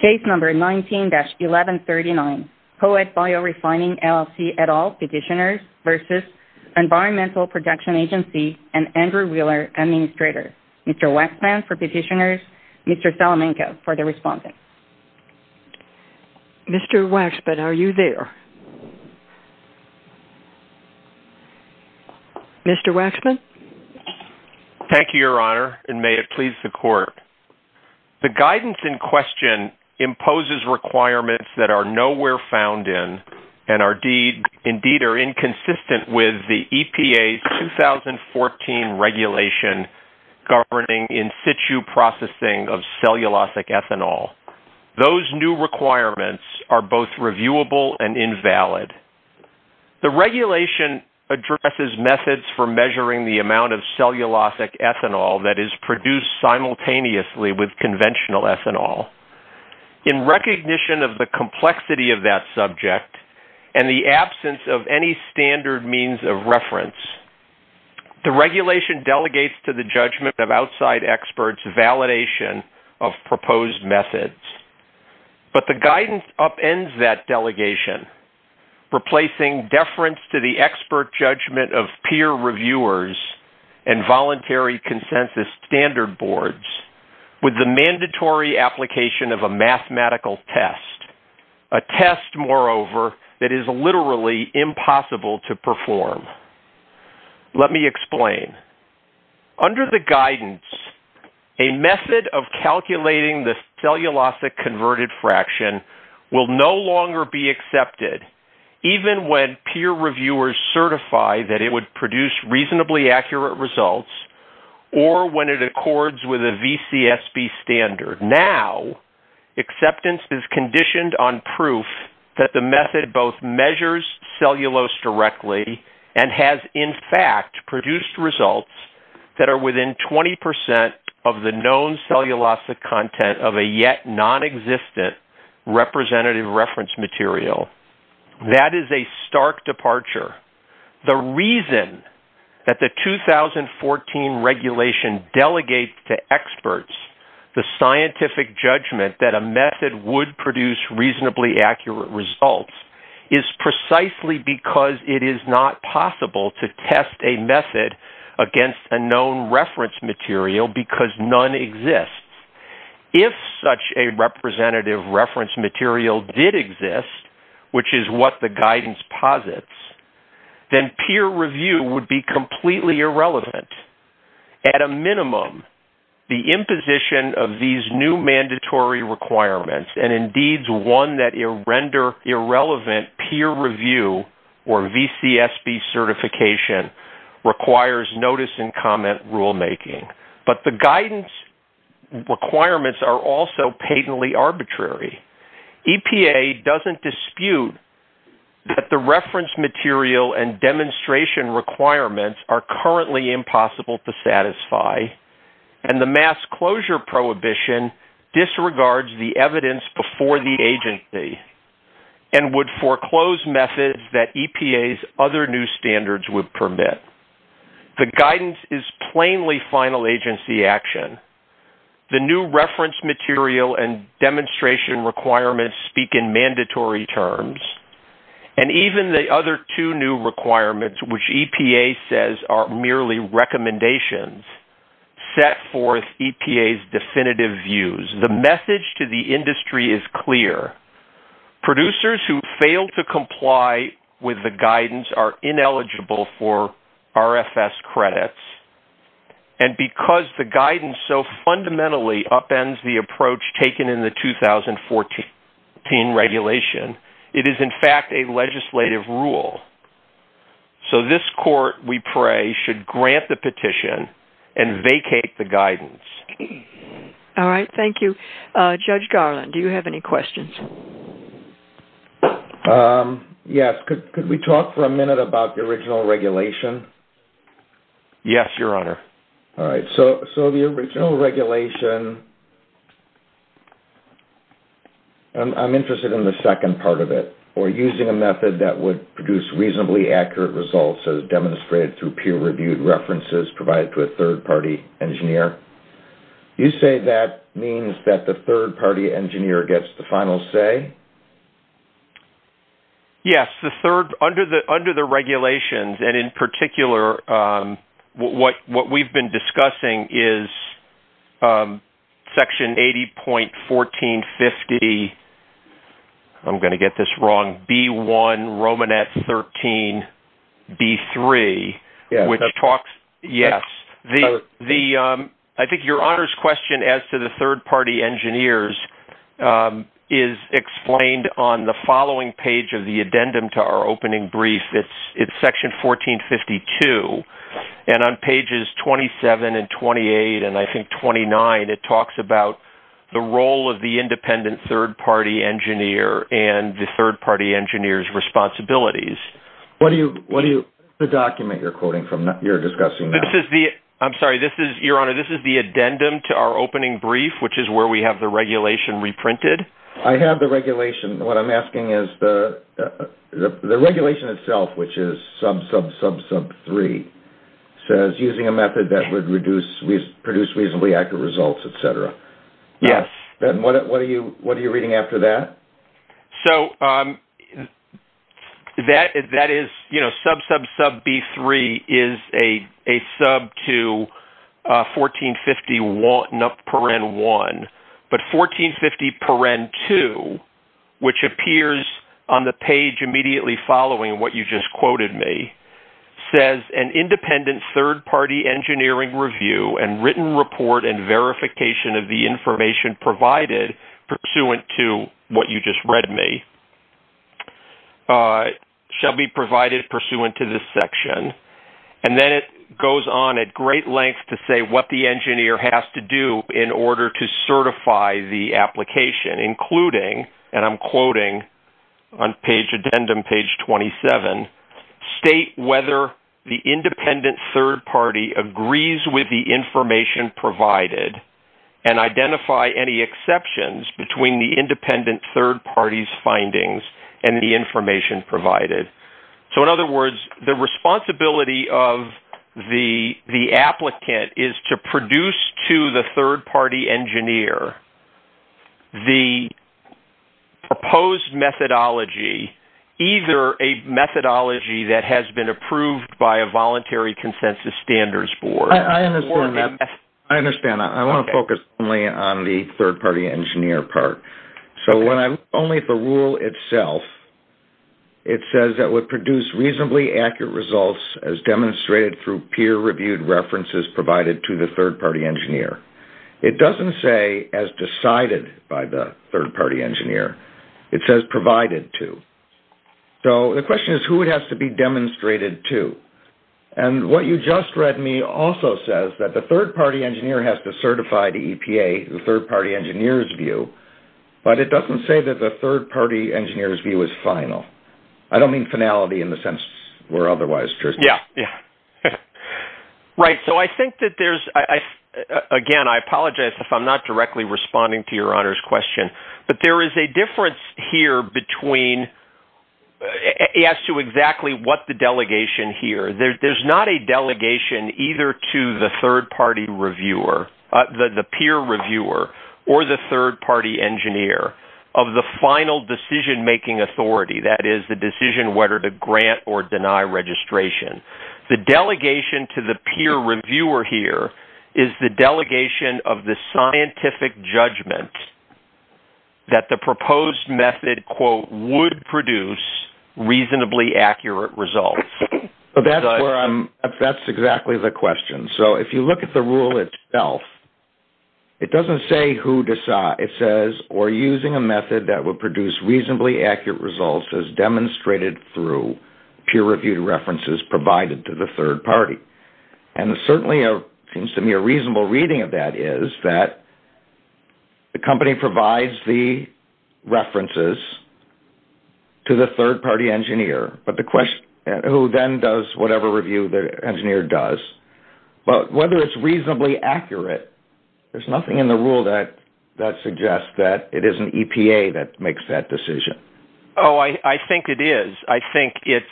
Case No. 19-1139 POET Biorefining, LLC et al. Petitioners v. Environmental Protection Agency and Andrew Wheeler, Administrator Mr. Waxman for Petitioners, Mr. Salamenko for the Respondent Mr. Waxman, are you there? Mr. Waxman? Thank you, Your Honor, and may it please the Court The guidance in question imposes requirements that are nowhere found in and indeed are inconsistent with the EPA's 2014 regulation governing in-situ processing of cellulosic ethanol. Those new requirements are both reviewable and invalid. The regulation addresses methods for measuring the amount of cellulosic ethanol that is produced simultaneously with conventional ethanol. In recognition of the complexity of that subject and the absence of any standard means of reference, the regulation delegates to the judgment of outside experts validation of proposed methods. But the guidance upends that delegation, replacing deference to the expert judgment of peer reviewers and voluntary consensus standard boards with the mandatory application of a mathematical test, a test, moreover, that is literally impossible to perform. Let me explain. Under the guidance, a method of calculating the cellulosic converted fraction will no longer be accepted, even when peer reviewers certify that it would produce reasonably accurate results or when it accords with a VCSB standard. Now, acceptance is conditioned on proof that the method both measures cellulose directly and has, in fact, produced results that are within 20% of the known cellulosic content of a yet non-existent representative reference material. That is a stark departure. The reason that the 2014 regulation delegates to experts the scientific judgment that a method would produce reasonably accurate results is precisely because it is not possible to test a method against a known reference material because none exists. If such a representative reference material did exist, which is what the guidance posits, then peer review would be completely irrelevant. At a minimum, the imposition of these new mandatory requirements and, indeed, one that render irrelevant peer review or VCSB certification requires notice and comment rulemaking. But the guidance requirements are also patently arbitrary. EPA doesn't dispute that the reference material and demonstration requirements are currently impossible to satisfy, and the mass closure prohibition disregards the evidence before the agency and would foreclose methods that EPA's other new standards would permit. The guidance is plainly final agency action. The new reference material and demonstration requirements speak in mandatory terms, and even the other two new requirements, which EPA says are merely recommendations, set forth EPA's definitive views. The message to the industry is clear. Producers who fail to comply with the guidance are ineligible for RFS credits, and because the guidance so fundamentally upends the approach taken in the 2014 regulation, it is, in fact, a legislative rule. So this court, we pray, should grant the petition and vacate the guidance. All right. Thank you. Judge Garland, do you have any questions? Yes. Could we talk for a minute about the original regulation? Yes, Your Honor. All right. So the original regulation, I'm interested in the second part of it, or using a method that would produce reasonably accurate results as demonstrated through peer-reviewed references provided to a third-party engineer. You say that means that the third-party engineer gets the final say? Yes. Under the regulations, and in particular, what we've been discussing is Section 80.1450, I'm going to get this wrong, B.1. Romanet 13.B.3. Yes. Yes. I think Your Honor's question as to the third-party engineers is explained on the following page of the addendum to our opening brief. It's Section 14.52, and on pages 27 and 28, and I think 29, it talks about the role of the independent third-party engineer and the third-party engineer's responsibilities. What is the document you're discussing now? I'm sorry. Your Honor, this is the addendum to our opening brief, which is where we have the regulation reprinted. I have the regulation. What I'm asking is the regulation itself, which is sub-sub-sub-sub-3, says using a method that would produce reasonably accurate results, et cetera. Yes. Then what are you reading after that? So that is, you know, sub-sub-sub-B.3 is a sub to 14.51, but 14.50.2, which appears on the page immediately following what you just quoted me, says an independent third-party engineering review and written report and verification of the information provided pursuant to what you just read me shall be provided pursuant to this section. And then it goes on at great length to say what the engineer has to do in order to certify the application, including, and I'm quoting on page addendum, page 27, state whether the independent third-party agrees with the information provided and identify any exceptions between the independent third-party's findings and the information provided. So in other words, the responsibility of the applicant is to produce to the third-party engineer the proposed methodology, either a methodology that has been approved by a voluntary consensus standards board or a methodology. I understand. I want to focus only on the third-party engineer part. So when I look only at the rule itself, it says that would produce reasonably accurate results as demonstrated through peer-reviewed references provided to the third-party engineer. It doesn't say as decided by the third-party engineer. It says provided to. So the question is who it has to be demonstrated to. And what you just read me also says that the third-party engineer has to certify the EPA, the third-party engineer's view, but it doesn't say that the third-party engineer's view is final. I don't mean finality in the sense where otherwise. Yeah. Yeah. Right. So I think that there's, again, I apologize if I'm not directly responding to your Honor's question, but there is a difference here between, as to exactly what the delegation here, there's not a delegation either to the third-party reviewer, the peer reviewer, or the third-party engineer of the final decision-making authority. That is, the decision whether to grant or deny registration. The delegation to the peer reviewer here is the delegation of the scientific judgment that the proposed method, quote, would produce reasonably accurate results. That's exactly the question. So if you look at the rule itself, it doesn't say who decides. It says, or using a method that would produce reasonably accurate results as demonstrated through peer-reviewed references provided to the third-party. And certainly it seems to me a reasonable reading of that is that the company provides the references to the third-party engineer, who then does whatever review the engineer does. But whether it's reasonably accurate, there's nothing in the rule that suggests that it isn't EPA that makes that decision. Oh, I think it is. I think it's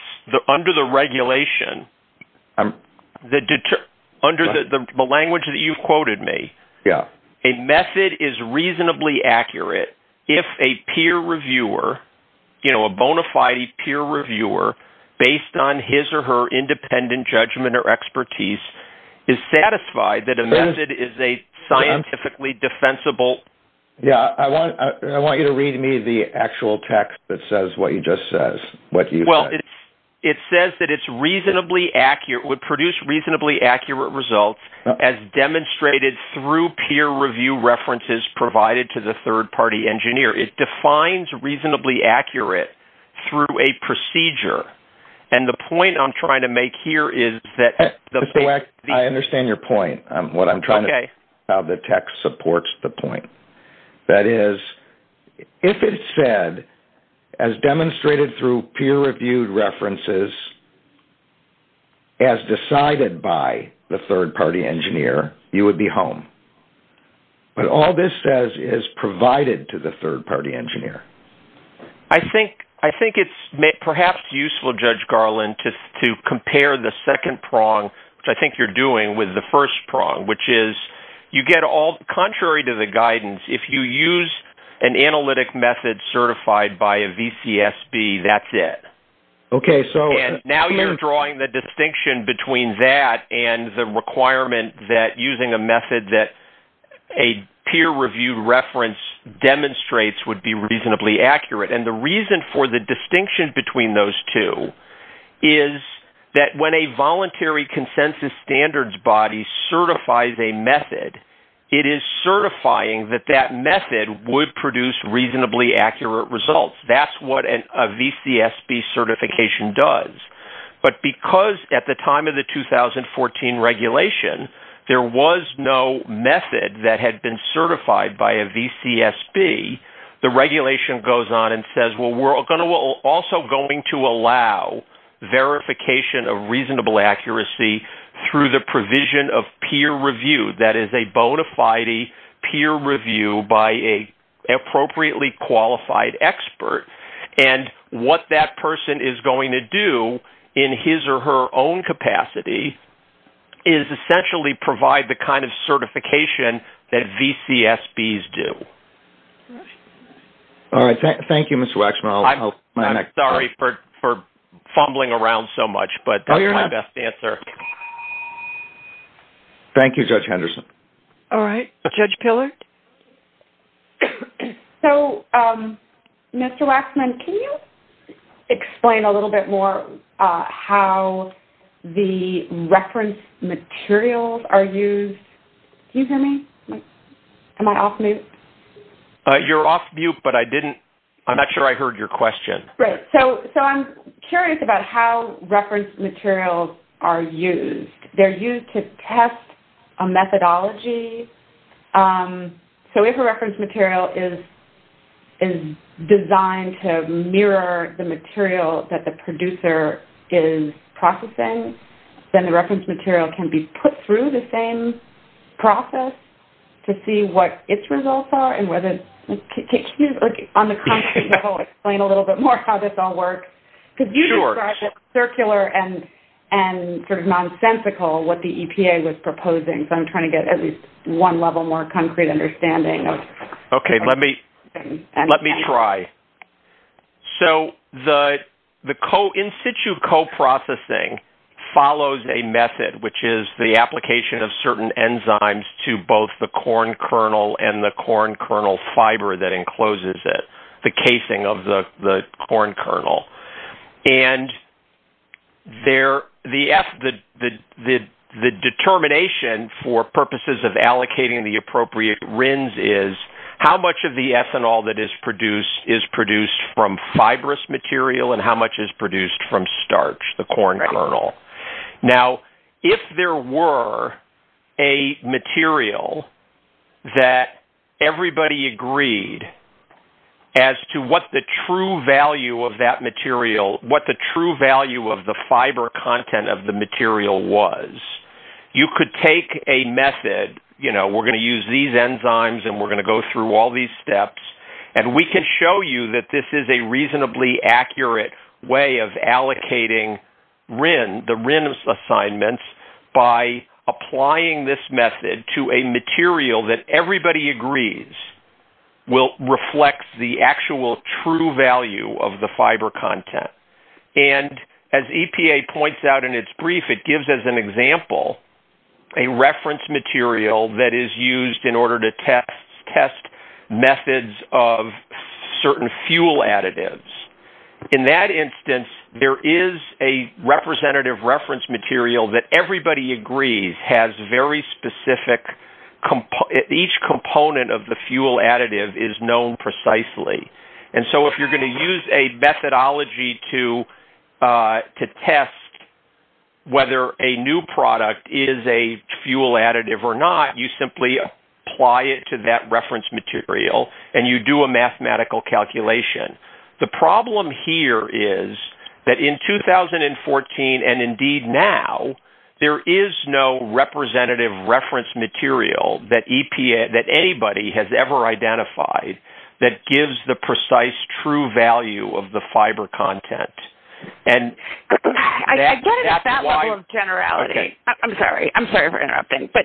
under the regulation, under the language that you've quoted me, a method is reasonably accurate if a peer reviewer, you know, a bona fide peer reviewer based on his or her independent judgment or a scientifically defensible. Yeah. I want you to read me the actual text that says what you just said. Well, it says that it's reasonably accurate, would produce reasonably accurate results as demonstrated through peer review references provided to the third-party engineer. It defines reasonably accurate through a procedure. And the point I'm trying to make here is that. I understand your point. What I'm trying to say is how the text supports the point. That is, if it said as demonstrated through peer reviewed references, as decided by the third-party engineer, you would be home. But all this says is provided to the third-party engineer. I think, I think it's perhaps useful judge Garland to, to compare the second prong, which I think you're doing with the first prong, which is you get all contrary to the guidance. If you use an analytic method certified by a VCSB, that's it. Okay. So now you're drawing the distinction between that and the requirement that using a method that a peer review reference demonstrates would be reasonably accurate. And the reason for the distinction between those two is that when a voluntary consensus standards body certifies a method, it is certifying that that method would produce reasonably accurate results. That's what a VCSB certification does. But because at the time of the 2014 regulation, there was no method that had been certified by a VCSB, the regulation goes on and says, well, we're going to also going to allow verification of reasonable accuracy through the provision of peer review. That is a bona fide peer review by a appropriately qualified expert. And what that person is going to do in his or her own capacity is essentially provide the kind of certification that VCSBs do. All right. Thank you, Mr. Waxman. I'm sorry for fumbling around so much, but that's my best answer. Thank you, Judge Henderson. All right. Judge Pillard. So, Mr. Waxman, can you explain a little bit more how the reference materials are used? Can you hear me? Am I off mute? You're off mute, but I'm not sure I heard your question. Right. So I'm curious about how reference materials are used. They're used to test a methodology. So if a reference material is designed to mirror the material that the producer is processing, then the reference material can be put through the same process to see what its results are and whether it takes you, on the concrete level, explain a little bit more how this all works. Sure. Could you describe it circular and sort of nonsensical, what the EPA was proposing? So I'm trying to get at least one level more concrete understanding. Okay. Let me try. So the in-situ coprocessing follows a method, which is the application of certain enzymes to both the corn kernel and the corn kernel fiber that encloses it, the casing of the corn kernel. And the determination for purposes of allocating the appropriate RINs is how much of the ethanol that is produced is produced from fibrous material and how much is produced from starch, the corn kernel. Now, if there were a material that everybody agreed as to what the true value of that material, what the true value of the fiber content of the material was, you could take a method, you know, we're going to use these enzymes and we're going to go through all these steps, and we can show you that this is a reasonably accurate way of allocating RIN, the RIN assignments, by applying this method to a material that everybody agrees will reflect the actual true value of the fiber content. And as EPA points out in its brief, it gives, as an example, a reference material that is used in order to test methods of certain fuel additives. In that instance, there is a representative reference material that everybody agrees has very specific, each component of the fuel additive is known precisely. And so if you're going to use a methodology to test whether a new product is a fuel additive or not, you simply apply it to that reference material and you do a mathematical calculation. The problem here is that in 2014, and indeed now, there is no representative reference material that EPA, that anybody has ever identified that gives the precise true value of the fiber content. And I get it at that level of generality. I'm sorry. I'm sorry for interrupting, but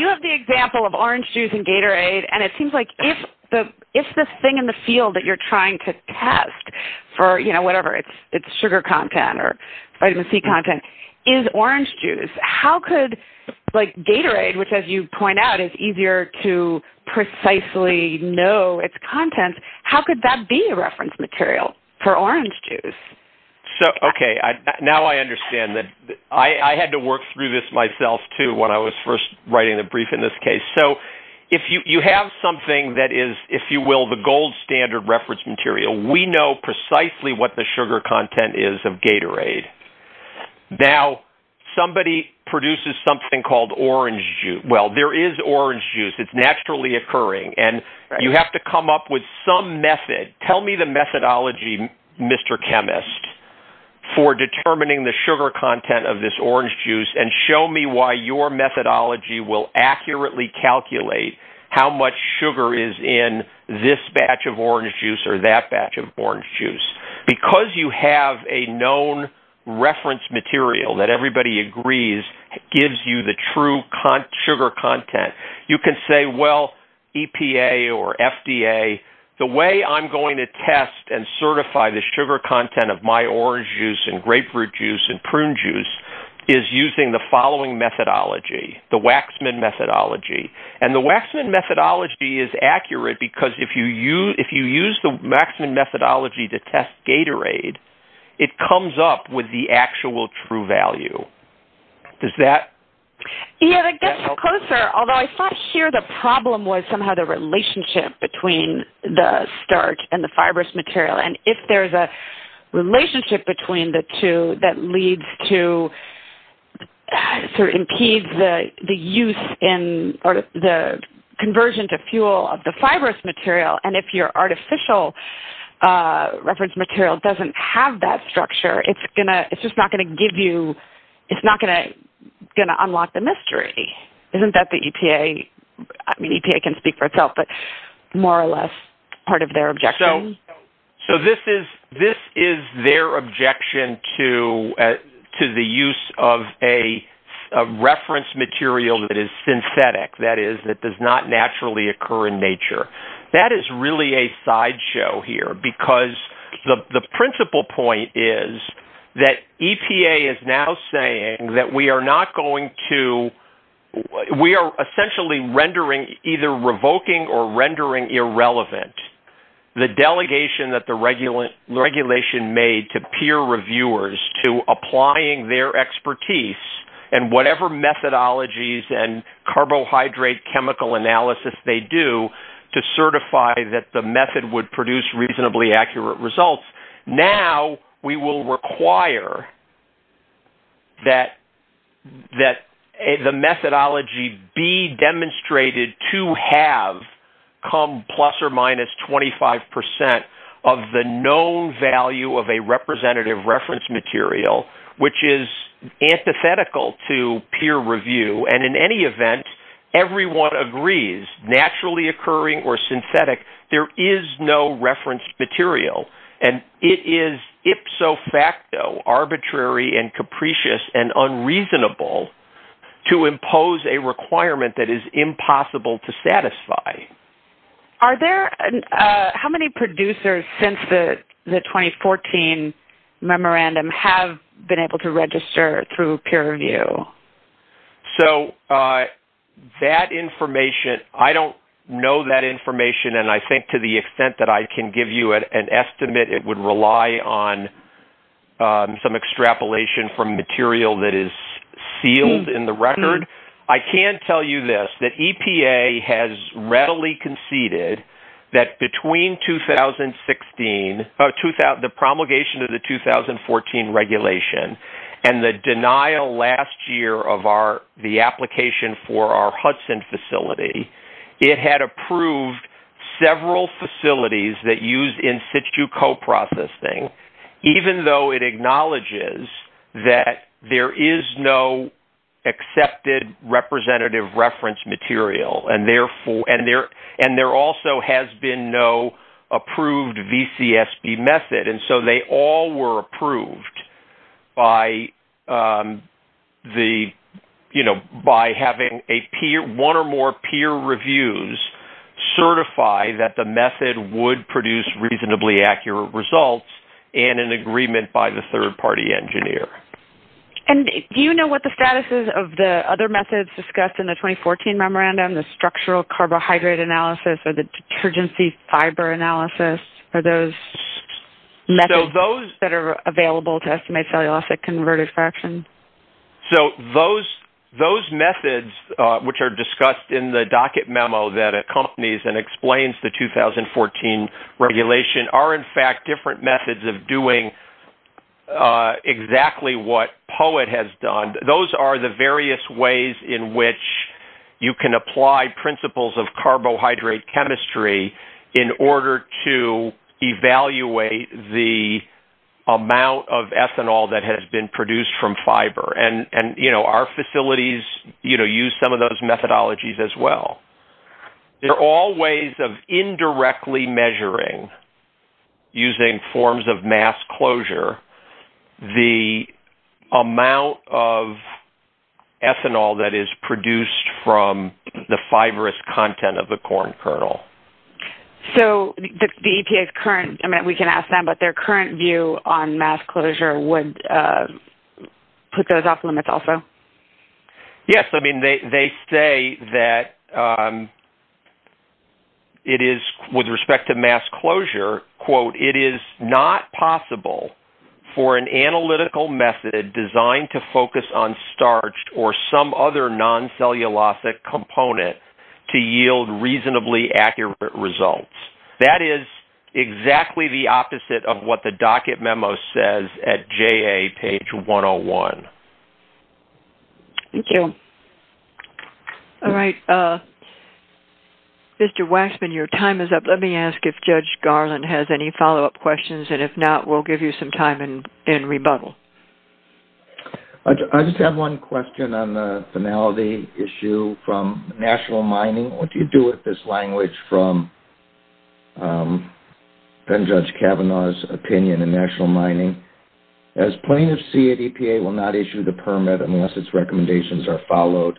you have the example of orange juice and Gatorade. And it seems like if this thing in the field that you're trying to test for, you know, whatever, it's sugar content or vitamin C content, is orange juice. How could like Gatorade, which as you point out is easier to precisely know its content, how could that be a reference material for orange juice? So, okay. Now I understand that I had to work through this myself too when I was first writing the brief in this case. So if you have something that is, if you will, the gold standard reference material, we know precisely what the sugar content is of Gatorade. Now, somebody produces something called orange juice. Well, there is orange juice. It's naturally occurring. And you have to come up with some method. Tell me the methodology, Mr. Chemist for determining the sugar content of this orange juice and show me why your methodology will accurately calculate how much sugar is in this batch of orange juice or that batch of orange juice. Because you have a known reference material that everybody agrees gives you the true sugar content. You can say, well, EPA or FDA, the way I'm going to test and certify the sugar content of my orange juice and grapefruit juice and prune juice is using the following methodology, the Waxman methodology. And the Waxman methodology is accurate because if you use, if you use the Waxman methodology to test Gatorade, it comes up with the actual true value. Does that? Yeah, it gets closer, although I thought here the problem was somehow the relationship between the starch and the fibrous material. And if there's a relationship between the two, that leads to sort of impedes the, the use in the conversion to fuel of the fibrous material. And if your artificial reference material doesn't have that structure, it's going to, it's just not going to give you, it's not going to unlock the mystery. Isn't that the EPA? I mean, EPA can speak for itself, but more or less part of their objection. So, so this is, this is their objection to, to the use of a reference material that is synthetic. That is, that does not naturally occur in nature. That is really a sideshow here because the, the principal point is that EPA is now saying that we are not going to, we are essentially rendering either revoking or rendering irrelevant. The delegation that the regular regulation made to peer reviewers to applying their expertise and whatever methodologies and carbohydrate chemical analysis they do to certify that the method would produce reasonably accurate results. Now we will require that, that the methodology be demonstrated to have come plus or minus 25% of the known value of a representative reference material, which is antithetical to peer review. And in any event, everyone agrees naturally occurring or synthetic. There is no reference material and it is ipso facto arbitrary and capricious and unreasonable to impose a Are there, how many producers since the 2014 memorandum have been able to register through peer review? So that information, I don't know that information. And I think to the extent that I can give you an estimate, it would rely on some extrapolation from material that is sealed in the record. I can tell you this, that EPA has readily conceded that between 2016 or 2000, the promulgation of the 2014 regulation and the denial last year of our, the application for our Hudson facility, it had approved several facilities that use in situ coprocessing, even though it acknowledges that there is no accepted representative reference material. And therefore, and there, and there also has been no approved VCSB method. And so they all were approved by the, you know, by having a peer, one or more peer reviews certify that the method would produce reasonably accurate results and an agreement by the third party engineer. And do you know what the status is of the other methods discussed in the 2014 memorandum, the structural carbohydrate analysis or the detergency fiber analysis? Are those methods that are available to estimate cellulosic converted fraction? So those, those methods which are discussed in the docket memo that accompanies and explains the 2014 regulation are in fact different methods of doing exactly what poet has done. Those are the various ways in which you can apply principles of carbohydrate chemistry in order to evaluate the amount of ethanol that has been produced from fiber. And, and you know, our facilities, you know, use some of those methodologies as well. There are all ways of indirectly measuring using forms of mass closure, the amount of ethanol that is produced from the fibrous content of the corn kernel. So the EPA is current. I mean, we can ask them, but their current view on mass closure would put those off limits also. Yes. I mean, they, they say that it is with respect to mass closure quote, it is not possible for an analytical method designed to focus on starch or some other non-cellulosic component to yield reasonably accurate results. That is exactly the opposite of what the docket memo says at JA page 101. Thank you. All right. Mr. Waxman, your time is up. Let me ask if Judge Garland has any follow-up questions, and if not, we'll give you some time in rebuttal. I just have one question on the finality issue from national mining. What do you do with this language from Judge Kavanaugh's opinion in national mining? As plaintiffs see it, EPA will not issue the permit unless its recommendations are followed.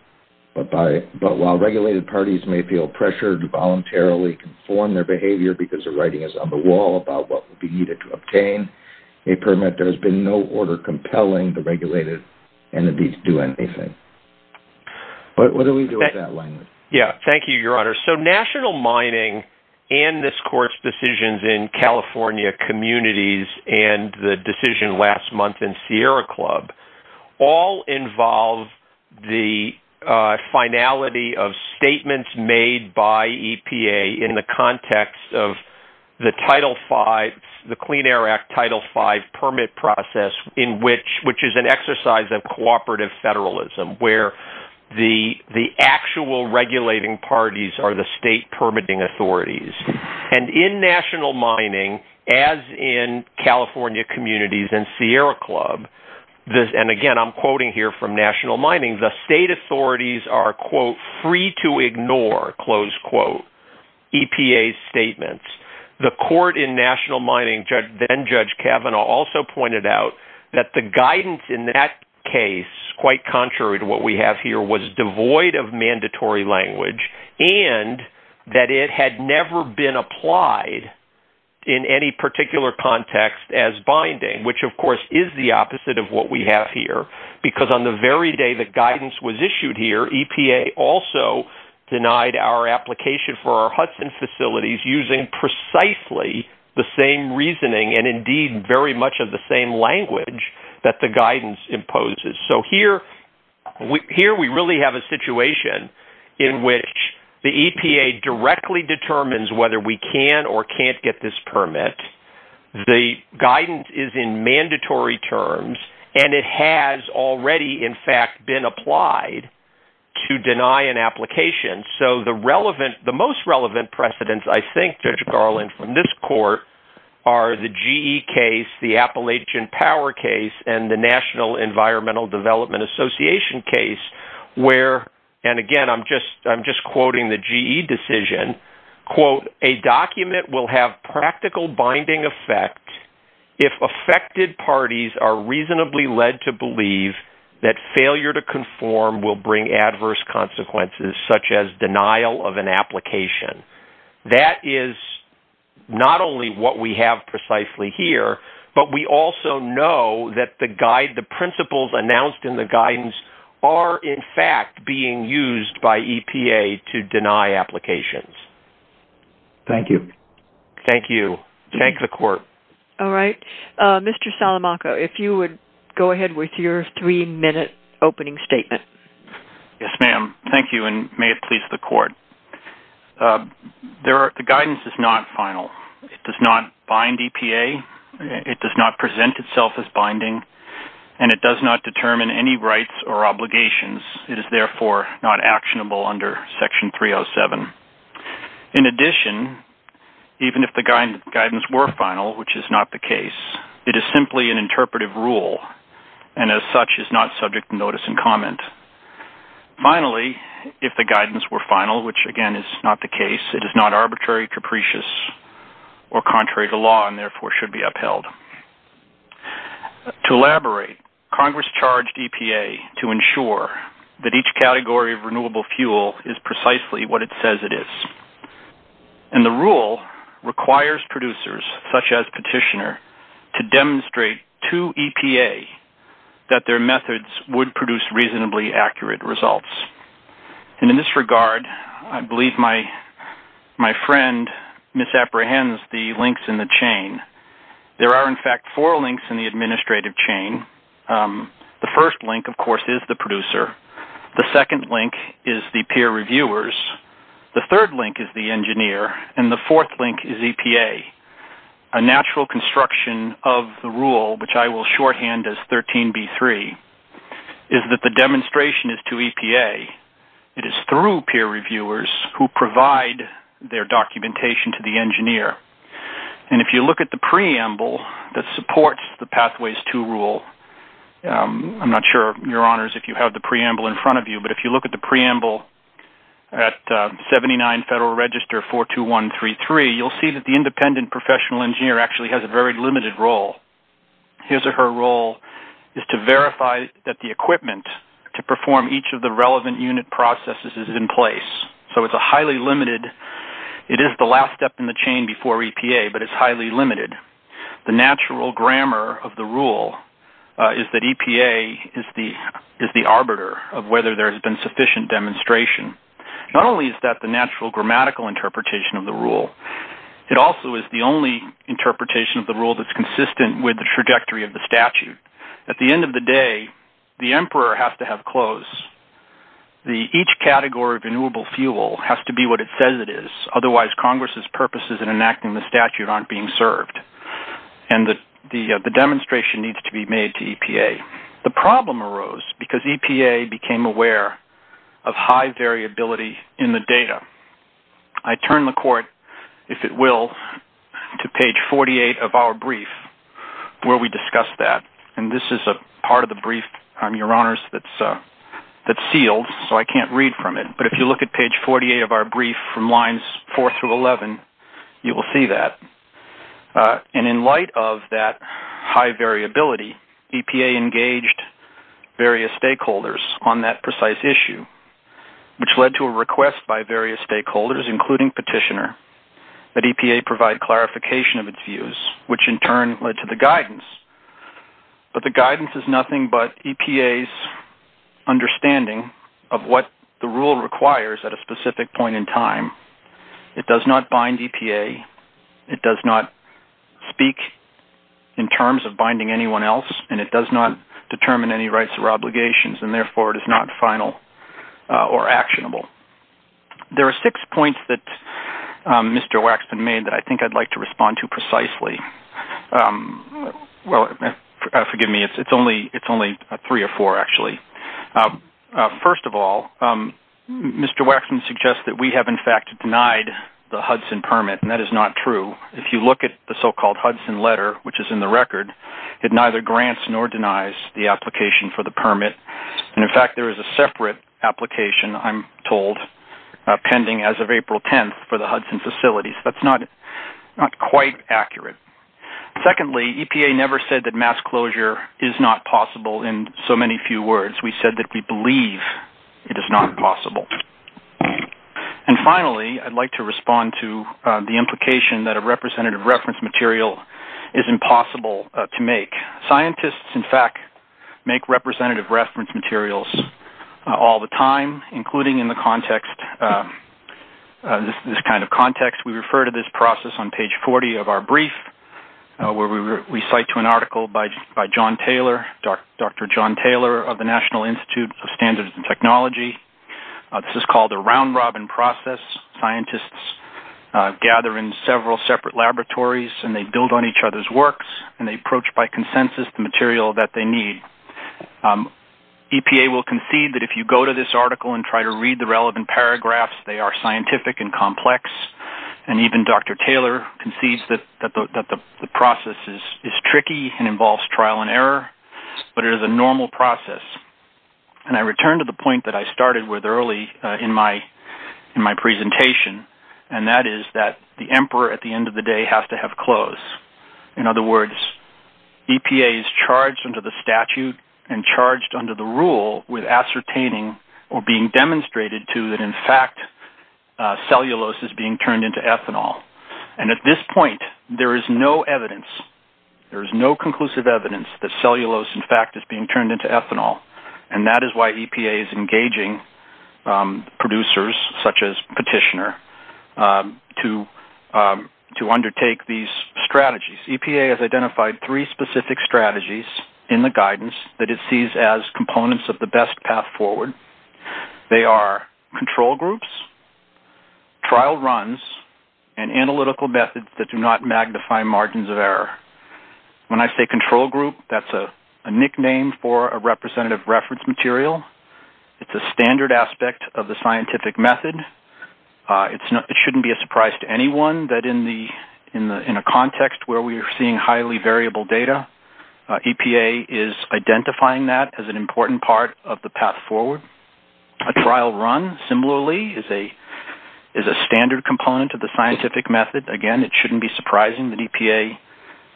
But by, but while regulated parties may feel pressured to voluntarily conform their behavior because the writing is on the wall about what would be needed to obtain a permit, there has been no order compelling the regulated entities do anything. But what do we do with that language? Yeah. Thank you, your honor. So national mining and this court's decisions in California communities and the decision last month in Sierra club all involve the finality of statements made by EPA in the context of the title five, the clean air act title five permit process in which, which is an exercise of cooperative federalism, where the, the actual regulating parties are the state permitting authorities and in national mining, as in California communities and Sierra club this. And again, I'm quoting here from national mining, the state authorities are quote, free to ignore close quote, EPA statements, the court in national mining judge, then judge Kavanaugh also pointed out that the guidance in that case, quite contrary to what we have here was devoid of mandatory language. And that it had never been applied in any particular context as binding, which of course is the opposite of what we have here, because on the very day that guidance was issued here, EPA also denied our application for our Hudson facilities using precisely the same reasoning and indeed very much of the same language that the guidance imposes. So here we, here we really have a situation in which the EPA directly determines whether we can or can't get this permit. The guidance is in mandatory terms and it has already in fact been applied to deny an application. So the relevant, the most relevant precedents, I think judge Garland from this court are the GE case, the Appalachian power case and the national environmental development association case where, and again, I'm just, I'm just quoting the GE decision quote, a document will have practical binding effect if affected parties are reasonably led to believe that failure to conform will bring adverse consequences such as denial of an application. That is not only what we have precisely here, but we also know that the guide, the principles announced in the guidance are in fact being used by EPA to deny applications. Thank you. Thank you. Thank the court. All right. Mr. Salamaka, if you would go ahead with your three minute opening statement. Yes, ma'am. Thank you. And may it please the court. There are, the guidance is not final. It does not bind EPA. It does not present itself as binding and it does not determine any rights or obligations. It is therefore not actionable under section 307. In addition, even if the guidance were final, which is not the case, it is simply an interpretive rule. And as such is not subject to notice and comment. Finally, if the guidance were final, which again, is not the case, it is not arbitrary, capricious or contrary to law and therefore should be upheld to elaborate Congress charged EPA to ensure that each category of application is as accurate as it is. And the rule requires producers, such as petitioner, to demonstrate to EPA that their methods would produce reasonably accurate results. And in this regard, I believe my friend misapprehends the links in the chain. There are, in fact, four links in the administrative chain. The first link, of course, is the producer. The second link is the peer reviewers. The third link is the engineer. And the fourth link is EPA. A natural construction of the rule, which I will shorthand as 13B3, is that the demonstration is to EPA. It is through peer reviewers who provide their documentation to the engineer. And if you look at the preamble that supports the Pathways to Rule, I'm not sure, Your Honors, if you have the preamble in front of you, but if you look at the preamble at 79 Federal Register 42133, you'll see that the independent professional engineer actually has a very limited role. His or her role is to verify that the equipment to perform each of the relevant unit processes is in place. So it's a highly limited, it is the last step in the chain before EPA, but it's highly limited. The natural grammar of the rule is that EPA is the arbiter of whether there has been sufficient demonstration. Not only is that the natural grammatical interpretation of the rule, it also is the only interpretation of the rule that's consistent with the trajectory of the statute. At the end of the day, the emperor has to have clothes. Each category of renewable fuel has to be what it says it is, otherwise Congress's purposes in enacting the statute aren't being served, and the demonstration needs to be made to EPA. The problem arose because EPA became aware of high variability in the data. I turn the Court, if it will, to page 48 of our brief where we discuss that, and this is part of the brief, Your Honors, that's sealed, so I can't read from it, but if you look at page 48 of our brief, pages 4 through 11, you will see that. And in light of that high variability, EPA engaged various stakeholders on that precise issue, which led to a request by various stakeholders, including petitioner, that EPA provide clarification of its views, which in turn led to the guidance. But the guidance is nothing but EPA's understanding of what the statute is. It does not bind EPA. It does not speak in terms of binding anyone else, and it does not determine any rights or obligations, and therefore it is not final or actionable. There are six points that Mr. Waxman made that I think I'd like to respond to precisely. Well, forgive me, it's only three or four, actually. First of all, Mr. Waxman suggests that we have, in fact, denied the Hudson permit, and that is not true. If you look at the so-called Hudson letter, which is in the record, it neither grants nor denies the application for the permit, and, in fact, there is a separate application, I'm told, pending as of April 10th for the Hudson facilities. That's not quite accurate. Secondly, EPA never said that mass closure is not possible in so many few words. We said that we believe it is not possible. And finally, I'd like to respond to the implication that a representative reference material is impossible to make. Scientists, in fact, make representative reference materials all the time, including in this kind of context. We refer to this process on page 40 of our brief, where we cite to an article by John Taylor, Dr. John Taylor of the National Institute of Standards and Technology. This is called a round-robin process. Scientists gather in several separate laboratories, and they build on each other's works, and they approach by consensus the material that they need. EPA will concede that if you go to this article and try to read the relevant paragraphs, they are scientific and complex, and even Dr. Taylor concedes that the process is tricky and involves trial and error, but it is a normal process. And I return to the point that I started with early in my presentation, and that is that the emperor, at the end of the day, has to have clothes. In other words, EPA is charged under the statute and charged under the rule with ascertaining or being demonstrated to that, in fact, cellulose is being turned into ethanol. And at this point, there is no evidence. There is no conclusive evidence that cellulose, in fact, is being turned into ethanol, and that is why EPA is engaging producers, such as Petitioner, to undertake these strategies. EPA has identified three specific strategies in the guidance that it sees as components of the best path forward. They are control groups, trial runs, and analytical methods that do not magnify margins of error. When I say control group, that's a nickname for a representative reference material. It's a standard aspect of the scientific method. It shouldn't be a surprise to anyone that in a context where we're seeing highly variable data, EPA is identifying that as an important component. A trial run, similarly, is a standard component of the scientific method. Again, it shouldn't be surprising that EPA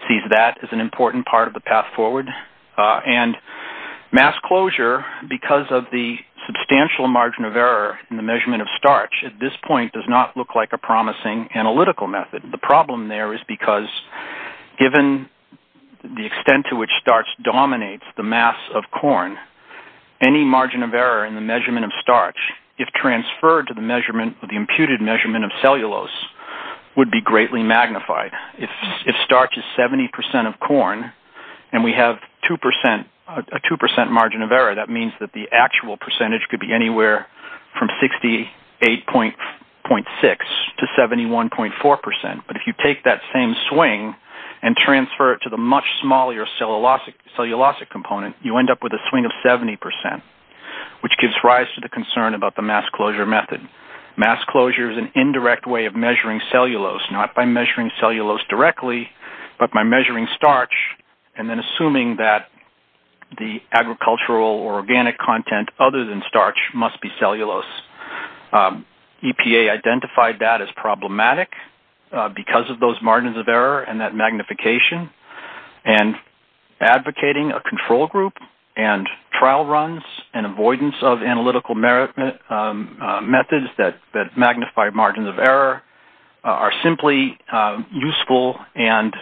sees that as an important part of the path forward. And mass closure, because of the substantial margin of error in the measurement of starch, at this point does not look like a promising analytical method. The problem there is because given the extent to which starch dominates the mass of corn, any margin of error in the measurement of starch, if transferred to the imputed measurement of cellulose, would be greatly magnified. If starch is 70 percent of corn and we have a 2 percent margin of error, that means that the actual percentage could be anywhere from 68.6 to 71.4 percent. But if you take that same swing and transfer it to the much smaller cellulosic component, you end up with a swing of 70 percent, which gives rise to the concern about the mass closure method. Mass closure is an indirect way of measuring cellulose, not by measuring cellulose directly, but by measuring starch and then assuming that the agricultural or organic content other than starch must be cellulose. EPA identified that as problematic because of those margins of error and that magnification. And advocating a control group and trial runs and avoidance of analytical methods that magnify margins of error are simply useful and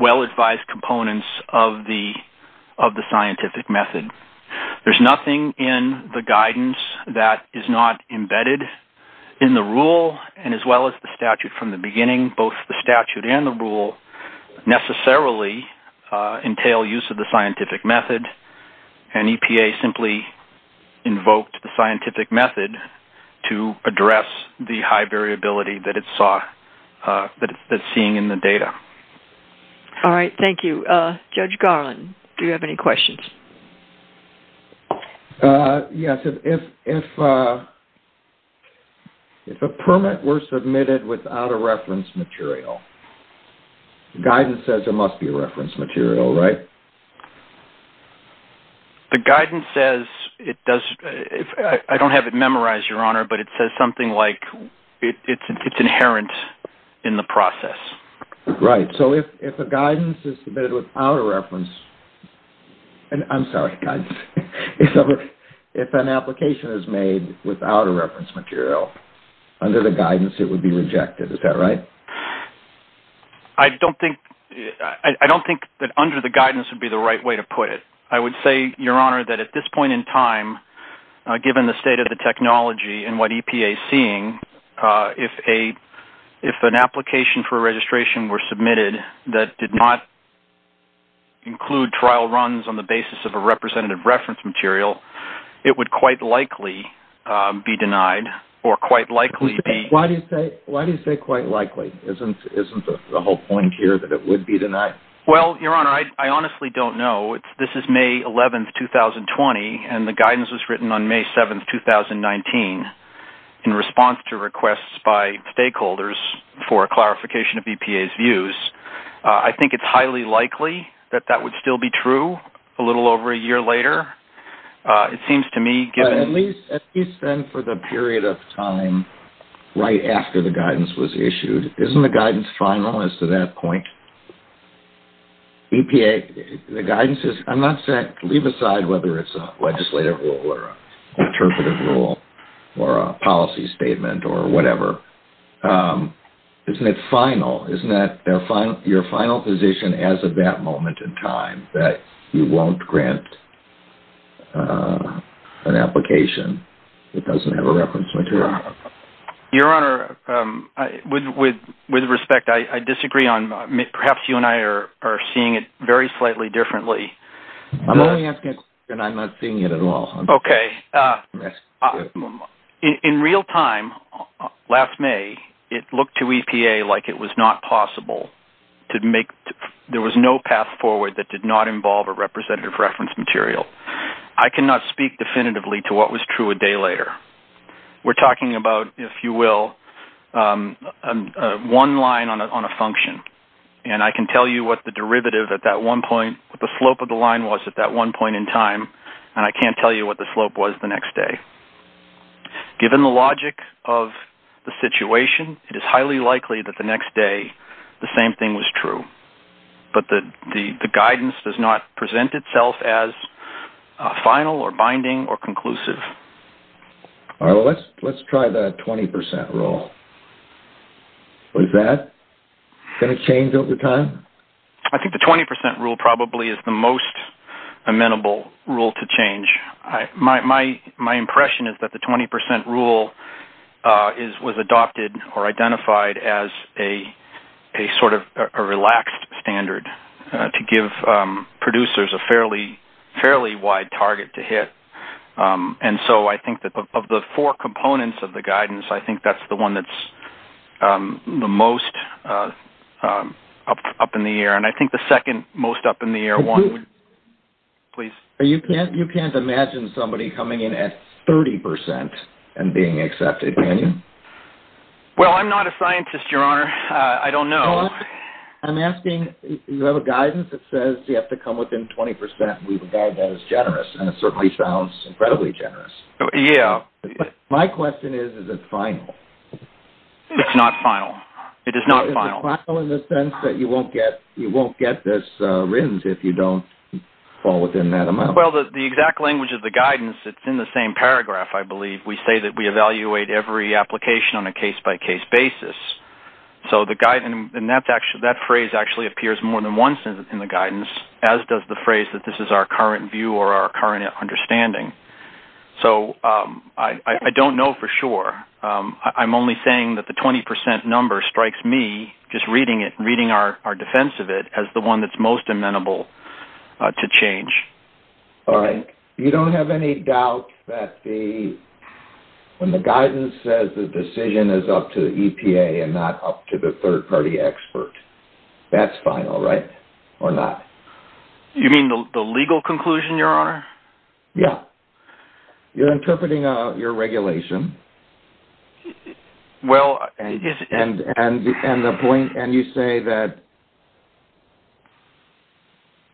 well-advised components of the scientific method. There's nothing in the guidance that is not embedded in the rule and as well as the statute from the beginning, both the statute and the rule necessarily entail use of the scientific method. And EPA simply invoked the scientific method to address the high variability that it's seeing in the data. All right. Thank you. Judge Garland, do you have any questions? Yes. If a permit were submitted without a reference material, the guidance says there must be a reference material, right? The guidance says it does – I don't have it memorized, Your Honor, but it says something like it's inherent in the process. Right. So if a guidance is submitted without a reference – I'm sorry, guidance – if an application is made without a reference material, under the guidance it would be rejected. Is that right? I don't think that under the guidance would be the right way to put it. I would say, Your Honor, that at this point in time, given the state of the technology and what EPA is seeing, if an application for registration were submitted that did not include trial runs on the basis of a representative reference material, it would quite likely be denied or quite likely be – Why do you say quite likely? Isn't the whole point here that it would be denied? Well, Your Honor, I honestly don't know. This is May 11, 2020, and the guidance was written on May 7, 2019. In response to requests by stakeholders for a clarification of EPA's views, I think it's highly likely that that would still be true a little over a year later. It seems to me, given – At least then for the period of time right after the guidance was issued, isn't the guidance final as to that point? EPA – the guidance is – I'm not saying – leave aside whether it's a interpretive rule or a policy statement or whatever. Isn't it final? Isn't that your final position as of that moment in time, that you won't grant an application that doesn't have a reference material? Your Honor, with respect, I disagree on – perhaps you and I are seeing it very slightly differently. I'm only asking a question. I'm not seeing it at all. Okay. In real time, last May, it looked to EPA like it was not possible to make – there was no path forward that did not involve a representative reference material. I cannot speak definitively to what was true a day later. We're talking about, if you will, one line on a function, and I can tell you what the derivative at that one point – and I can't tell you what the slope was the next day. Given the logic of the situation, it is highly likely that the next day the same thing was true. But the guidance does not present itself as final or binding or conclusive. Let's try the 20% rule. Is that going to change over time? I think the 20% rule probably is the most amenable rule to change. My impression is that the 20% rule was adopted or identified as a sort of relaxed standard to give producers a fairly wide target to hit. And so I think that of the four components of the guidance, I think that's the one that's the most up in the air. And I think the second most up in the air one – You can't imagine somebody coming in at 30% and being accepted, can you? Well, I'm not a scientist, Your Honor. I don't know. I'm asking – you have a guidance that says you have to come within 20%. We regard that as generous, and it certainly sounds incredibly generous. Yeah. But my question is, is it final? It's not final. It is not final. Is it final in the sense that you won't get this RINs if you don't fall within that amount? Well, the exact language of the guidance, it's in the same paragraph, I believe. We say that we evaluate every application on a case-by-case basis. And that phrase actually appears more than once in the guidance, as does the phrase that this is our current view or our current understanding. So I don't know for sure. I'm only saying that the 20% number strikes me, just reading our defense of it, as the one that's most amenable to change. All right. You don't have any doubt that when the guidance says the decision is up to the EPA and not up to the third-party expert, that's final, right? Or not? You mean the legal conclusion, Your Honor? Yeah. You're interpreting your regulation and you say that,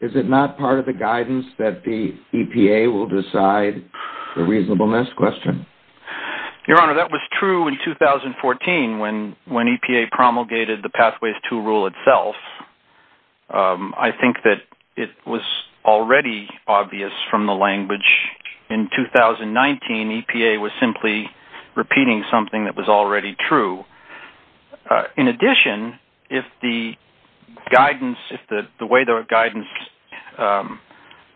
is it not part of the guidance that the EPA will decide the reasonableness question? Your Honor, that was true in 2014 when EPA promulgated the Pathways to Rule itself. I think that it was already obvious from the language. In 2019, EPA was simply repeating something that was already true. In addition, if the way the guidance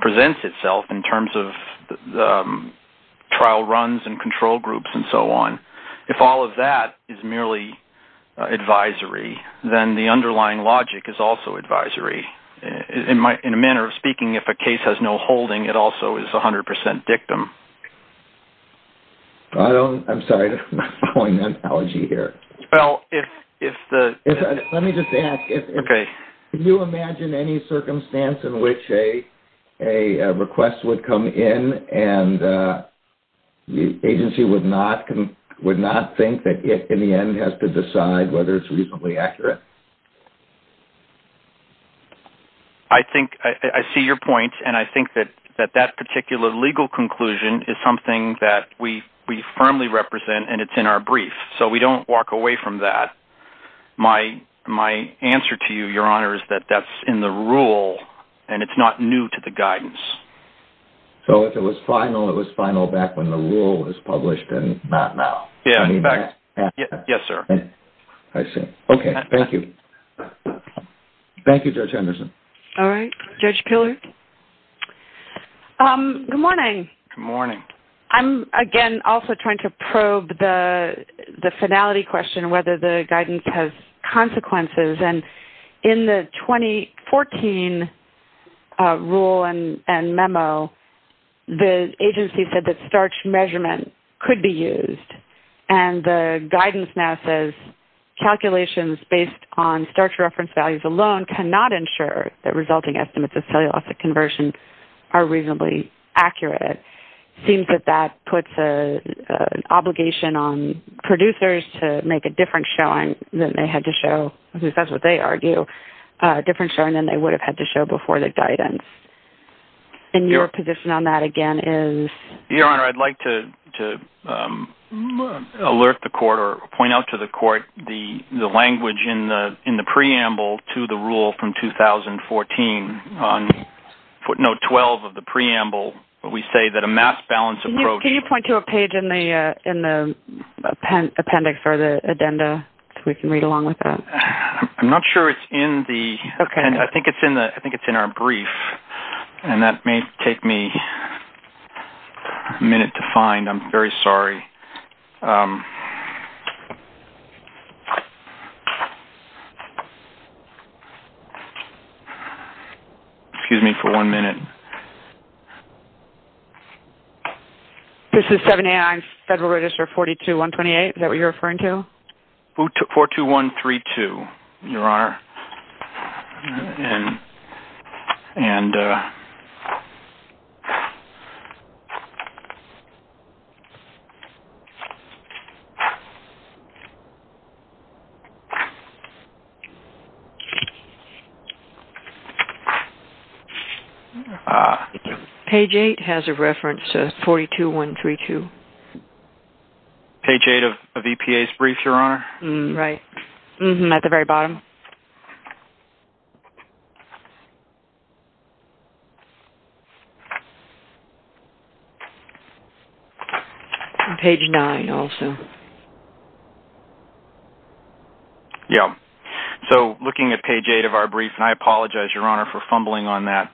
presents itself in terms of trial runs and control groups and so on, if all of that is merely advisory, then the underlying logic is also advisory. In a manner of speaking, if a case has no holding, it also is 100% dictum. I'm sorry, I'm following an analogy here. Well, if the- Let me just ask. Okay. Can you imagine any circumstance in which a request would come in and the agency would not think that it, in the end, has to decide whether it's reasonably accurate? I see your point, and I think that that particular legal conclusion is something that we firmly represent, and it's in our brief, so we don't walk away from that. My answer to you, Your Honor, is that that's in the rule, and it's not new to the guidance. So if it was final, it was final back when the rule was published and not now? Yes, sir. I see. Okay, thank you. Thank you, Judge Anderson. All right. Judge Pillard? Good morning. Good morning. I'm, again, also trying to probe the finality question, whether the guidance has consequences. And in the 2014 rule and memo, the agency said that starch measurement could be used, and the guidance now says calculations based on starch reference values alone cannot ensure that resulting estimates of cellulosic conversion are reasonably accurate. It seems that that puts an obligation on producers to make a different showing than they had to show, because that's what they argue, a different showing than they would have had to show before the guidance. And your position on that, again, is? Your Honor, I'd like to alert the Court or point out to the Court the language in the preamble to the rule from 2014. On footnote 12 of the preamble, we say that a mass balance approach... Can you point to a page in the appendix or the addenda so we can read along with that? I'm not sure it's in the... Okay. I think it's in our brief, and that may take me a minute to find. I'm very sorry. Excuse me for one minute. This is 789 Federal Register 42128. Is that what you're referring to? 42132, Your Honor. Page 8 has a reference to 42132. Page 8 of EPA's brief, Your Honor? Right. Page 8 of EPA's brief, Your Honor. Page 9 also. Yes. So, looking at page 8 of our brief, and I apologize, Your Honor, for fumbling on that,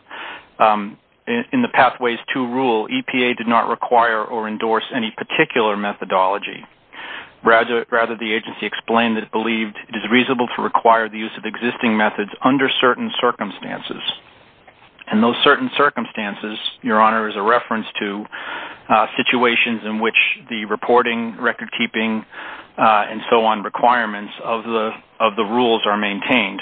in the Pathways to Rule, EPA did not require or endorse any particular methodology. Rather, the agency explained that it believed it is reasonable to require the use of the grant existing methods under certain circumstances. And those certain circumstances, Your Honor, is a reference to situations in which the reporting, recordkeeping, and so on requirements of the rules are maintained.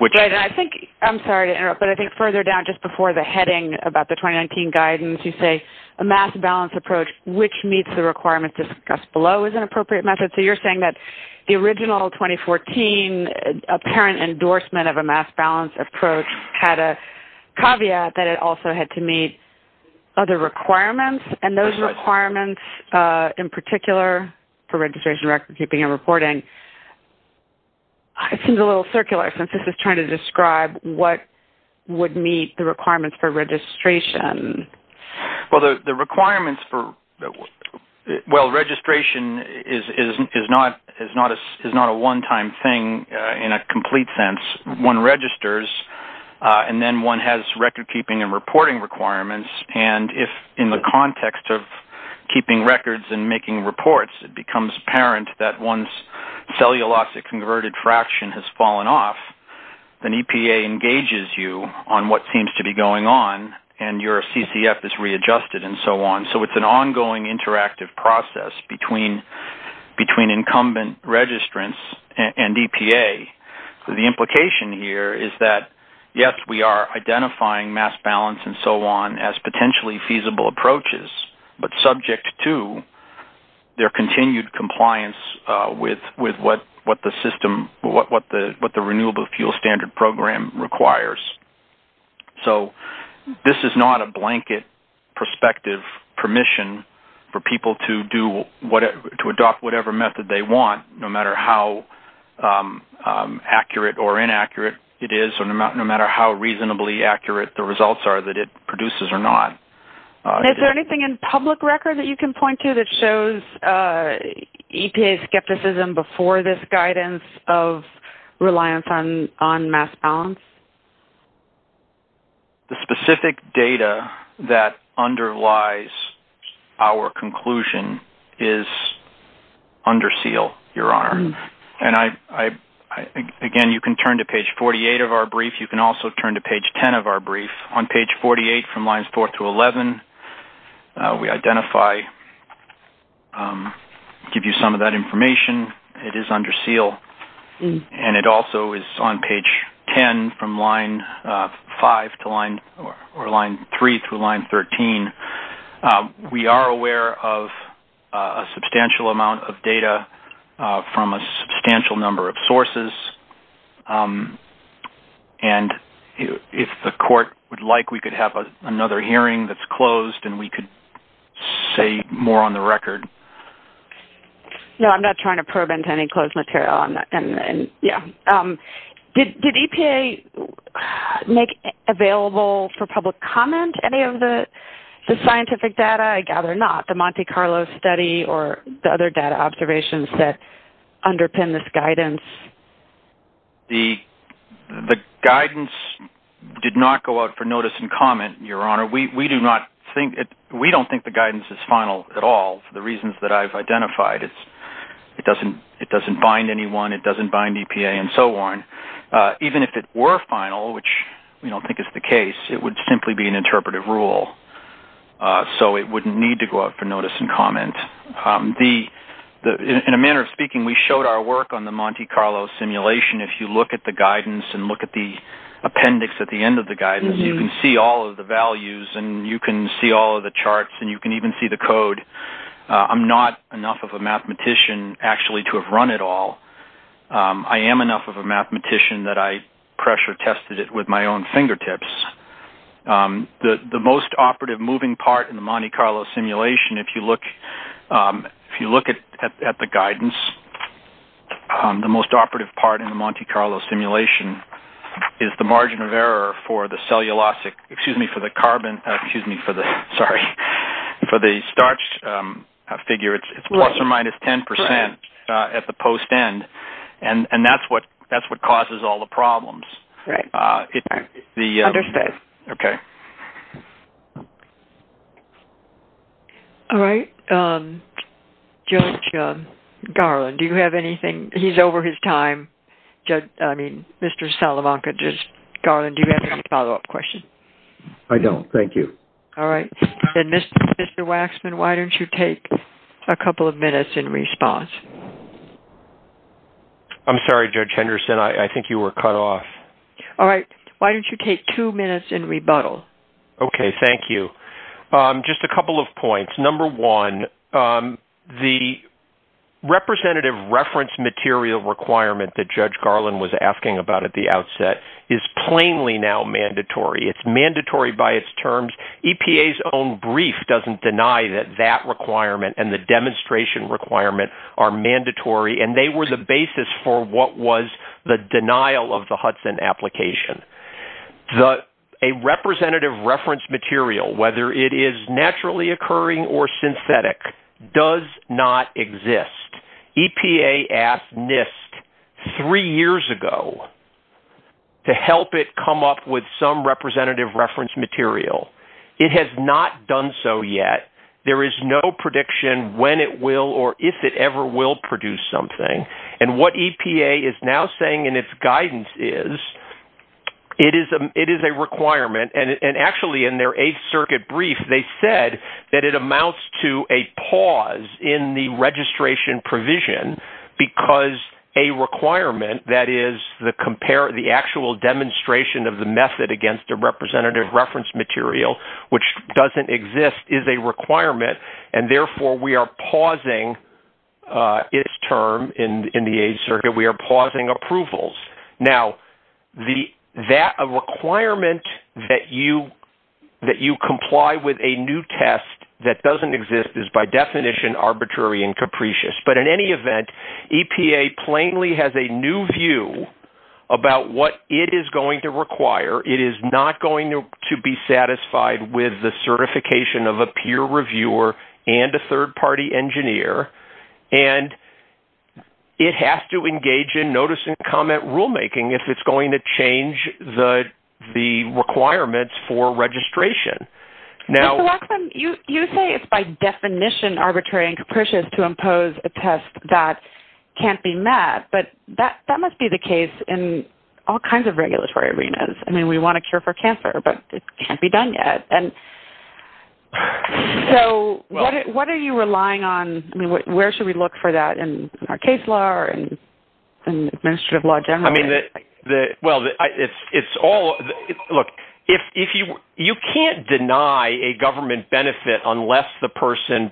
I'm sorry to interrupt, but I think further down just before the heading about the 2019 guidance, you say a mass balance approach which meets the requirements discussed below is an appropriate method. So, you're saying that the original 2014 apparent endorsement of a mass balance approach had a caveat that it also had to meet other requirements. And those requirements in particular for registration, recordkeeping, and reporting, it seems a little circular since this is trying to describe what would meet the requirements for registration. Well, the requirements for, well, registration is not a one-time thing in a complete sense. One registers, and then one has recordkeeping and reporting requirements. And if, in the context of keeping records and making reports, it becomes apparent that one's cellulosic converted fraction has fallen off, then EPA engages you on what seems to be going on and your CCF is readjusted and so on. So, it's an ongoing interactive process between incumbent registrants and EPA. The implication here is that, yes, we are identifying mass balance and so on as potentially feasible approaches, but subject to their continued compliance with what the Renewable Fuel Standard Program requires. So, this is not a blanket prospective permission for people to adopt whatever method they want, no matter how accurate or inaccurate it is, or no matter how reasonably accurate the results are that it produces or not. Is there anything in public record that you can point to that shows EPA skepticism before this guidance of reliance on mass balance? The specific data that underlies our conclusion is under seal, Your Honor. And, again, you can turn to page 48 of our brief. You can also turn to page 10 of our brief. On page 48, from lines 4 through 11, we identify and give you some of that information. It is under seal. And it also is on page 10 from line 5 to line 3 through line 13. We are aware of a substantial amount of data from a substantial number of sources. And if the Court would like, we could have another hearing that's closed, and we could say more on the record. No, I'm not trying to probe into any closed material. Yeah. Did EPA make available for public comment any of the scientific data? I gather not. Was it the Monte Carlo study or the other data observations that underpin this guidance? The guidance did not go out for notice and comment, Your Honor. We don't think the guidance is final at all for the reasons that I've identified. It doesn't bind anyone. It doesn't bind EPA and so on. Even if it were final, which we don't think is the case, it would simply be an interpretive rule. So it wouldn't need to go out for notice and comment. In a manner of speaking, we showed our work on the Monte Carlo simulation. If you look at the guidance and look at the appendix at the end of the guidance, you can see all of the values, and you can see all of the charts, and you can even see the code. I'm not enough of a mathematician, actually, to have run it all. I am enough of a mathematician that I pressure tested it with my own fingertips. The most operative moving part in the Monte Carlo simulation, if you look at the guidance, the most operative part in the Monte Carlo simulation is the margin of error for the cellulosic, excuse me, for the carbon, excuse me, for the starch figure. It's plus or minus 10% at the post end, and that's what causes all the problems. Right. Understood. Okay. All right. Judge Garland, do you have anything? He's over his time. I mean, Mr. Salamanca, just, Garland, do you have any follow-up questions? I don't. Thank you. All right. And Mr. Waxman, why don't you take a couple of minutes in response? I'm sorry, Judge Henderson. I think you were cut off. All right. Why don't you take two minutes and rebuttal? Okay. Thank you. Just a couple of points. Number one, the representative reference material requirement that Judge Garland was asking about at the outset is plainly now mandatory. It's mandatory by its terms. EPA's own brief doesn't deny that that requirement and the demonstration requirement are mandatory, and they were the basis for what was the denial of the Hudson application. A representative reference material, whether it is naturally occurring or synthetic, does not exist. EPA asked NIST three years ago to help it come up with some representative reference material. It has not done so yet. There is no prediction when it will or if it ever will produce something, and what EPA is now saying in its guidance is it is a requirement, and actually in their Eighth Circuit brief they said that it amounts to a pause in the registration provision because a requirement that is the actual demonstration of the method against a representative reference material, which doesn't exist, is a requirement, and therefore we are pausing its term in the Eighth Circuit. We are pausing approvals. Now, that requirement that you comply with a new test that doesn't exist is by definition arbitrary and capricious, but in any event, EPA plainly has a new view about what it is going to require. It is not going to be satisfied with the certification of a peer reviewer and a third-party engineer, and it has to engage in notice-and-comment rulemaking if it's going to change the requirements for registration. You say it's by definition arbitrary and capricious to impose a test that can't be met, but that must be the case in all kinds of regulatory arenas. I mean, we want to cure for cancer, but it can't be done yet. So what are you relying on? I mean, where should we look for that in our case law or in administrative law generally? Well, it's all – look, you can't deny a government benefit unless the person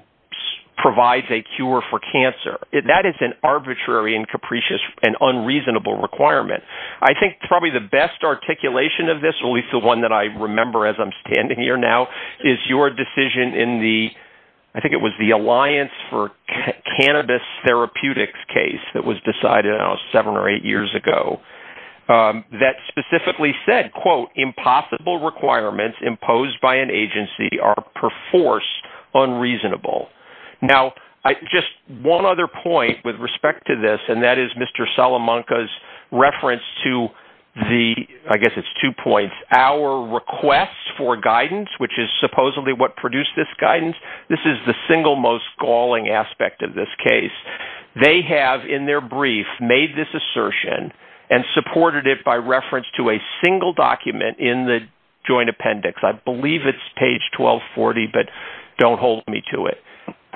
provides a cure for cancer. That is an arbitrary and capricious and unreasonable requirement. I think probably the best articulation of this, at least the one that I remember as I'm standing here now, is your decision in the – I think it was the Alliance for Cannabis Therapeutics case that was decided, I don't know, seven or eight years ago, that specifically said, quote, impossible requirements imposed by an agency are perforce unreasonable. Now, just one other point with respect to this, and that is Mr. Salamanca's reference to the – I guess it's two points – our requests for guidance, which is supposedly what produced this guidance. This is the single most galling aspect of this case. They have, in their brief, made this assertion and supported it by reference to a single document in the joint appendix. I believe it's page 1240, but don't hold me to it.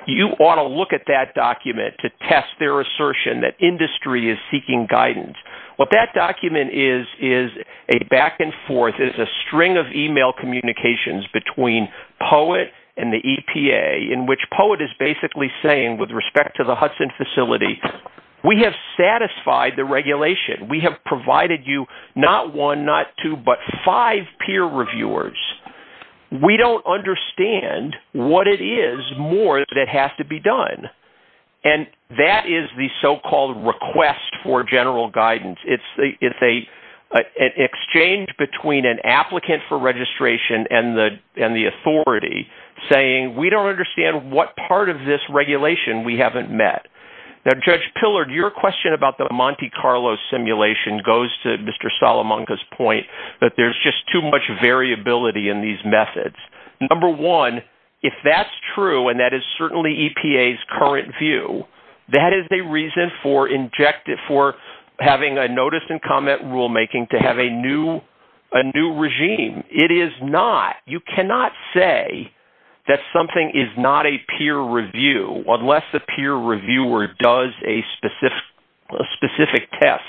You ought to look at that document to test their assertion that industry is seeking guidance. What that document is is a back and forth. It is a string of email communications between POET and the EPA in which POET is basically saying, with respect to the Hudson facility, we have satisfied the regulation. We have provided you not one, not two, but five peer reviewers. We don't understand what it is more that has to be done. And that is the so-called request for general guidance. It's an exchange between an applicant for registration and the authority saying, we don't understand what part of this regulation we haven't met. Now, Judge Pillard, your question about the Monte Carlo simulation goes to Mr. Salamanca's point that there's just too much variability in these methods. Number one, if that's true, and that is certainly EPA's current view, that is a reason for having a notice and comment rulemaking to have a new regime. It is not. You cannot say that something is not a peer review unless the peer reviewer does a specific test,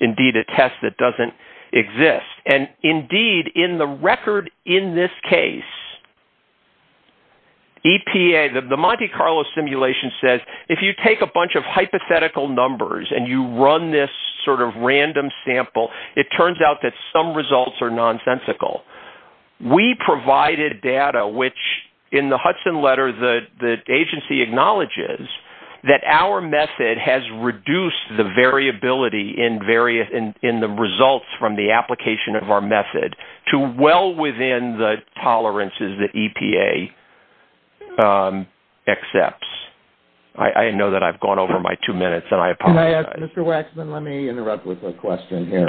indeed a test that doesn't exist. And, indeed, in the record in this case, EPA, the Monte Carlo simulation says, if you take a bunch of hypothetical numbers and you run this sort of random sample, it turns out that some results are nonsensical. We provided data, which in the Hudson letter the agency acknowledges, that our method has reduced the variability in the results from the application of our method to well within the tolerances that EPA accepts. I know that I've gone over my two minutes, and I apologize. Mr. Waxman, let me interrupt with a question here.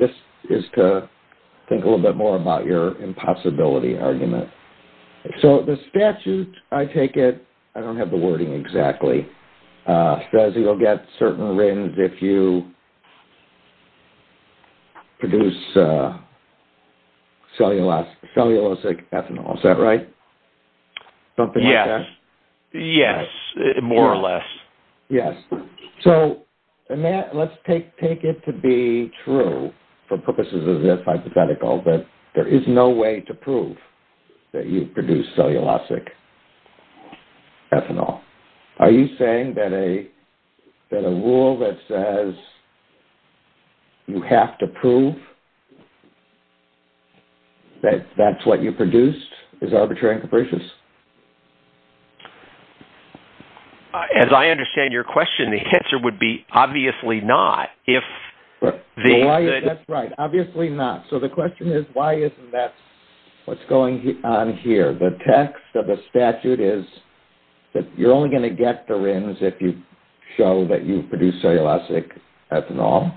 This is to think a little bit more about your impossibility argument. So the statute, I take it, I don't have the wording exactly, says you'll get certain RINs if you produce cellulosic ethanol. Is that right? Yes. Yes, more or less. Yes. So let's take it to be true for purposes of this hypothetical that there is no way to prove that you've produced cellulosic ethanol. Are you saying that a rule that says you have to prove that that's what you produced is arbitrary and capricious? As I understand your question, the answer would be obviously not. That's right, obviously not. So the question is, why isn't that what's going on here? The text of the statute is that you're only going to get the RINs if you show that you've produced cellulosic ethanol.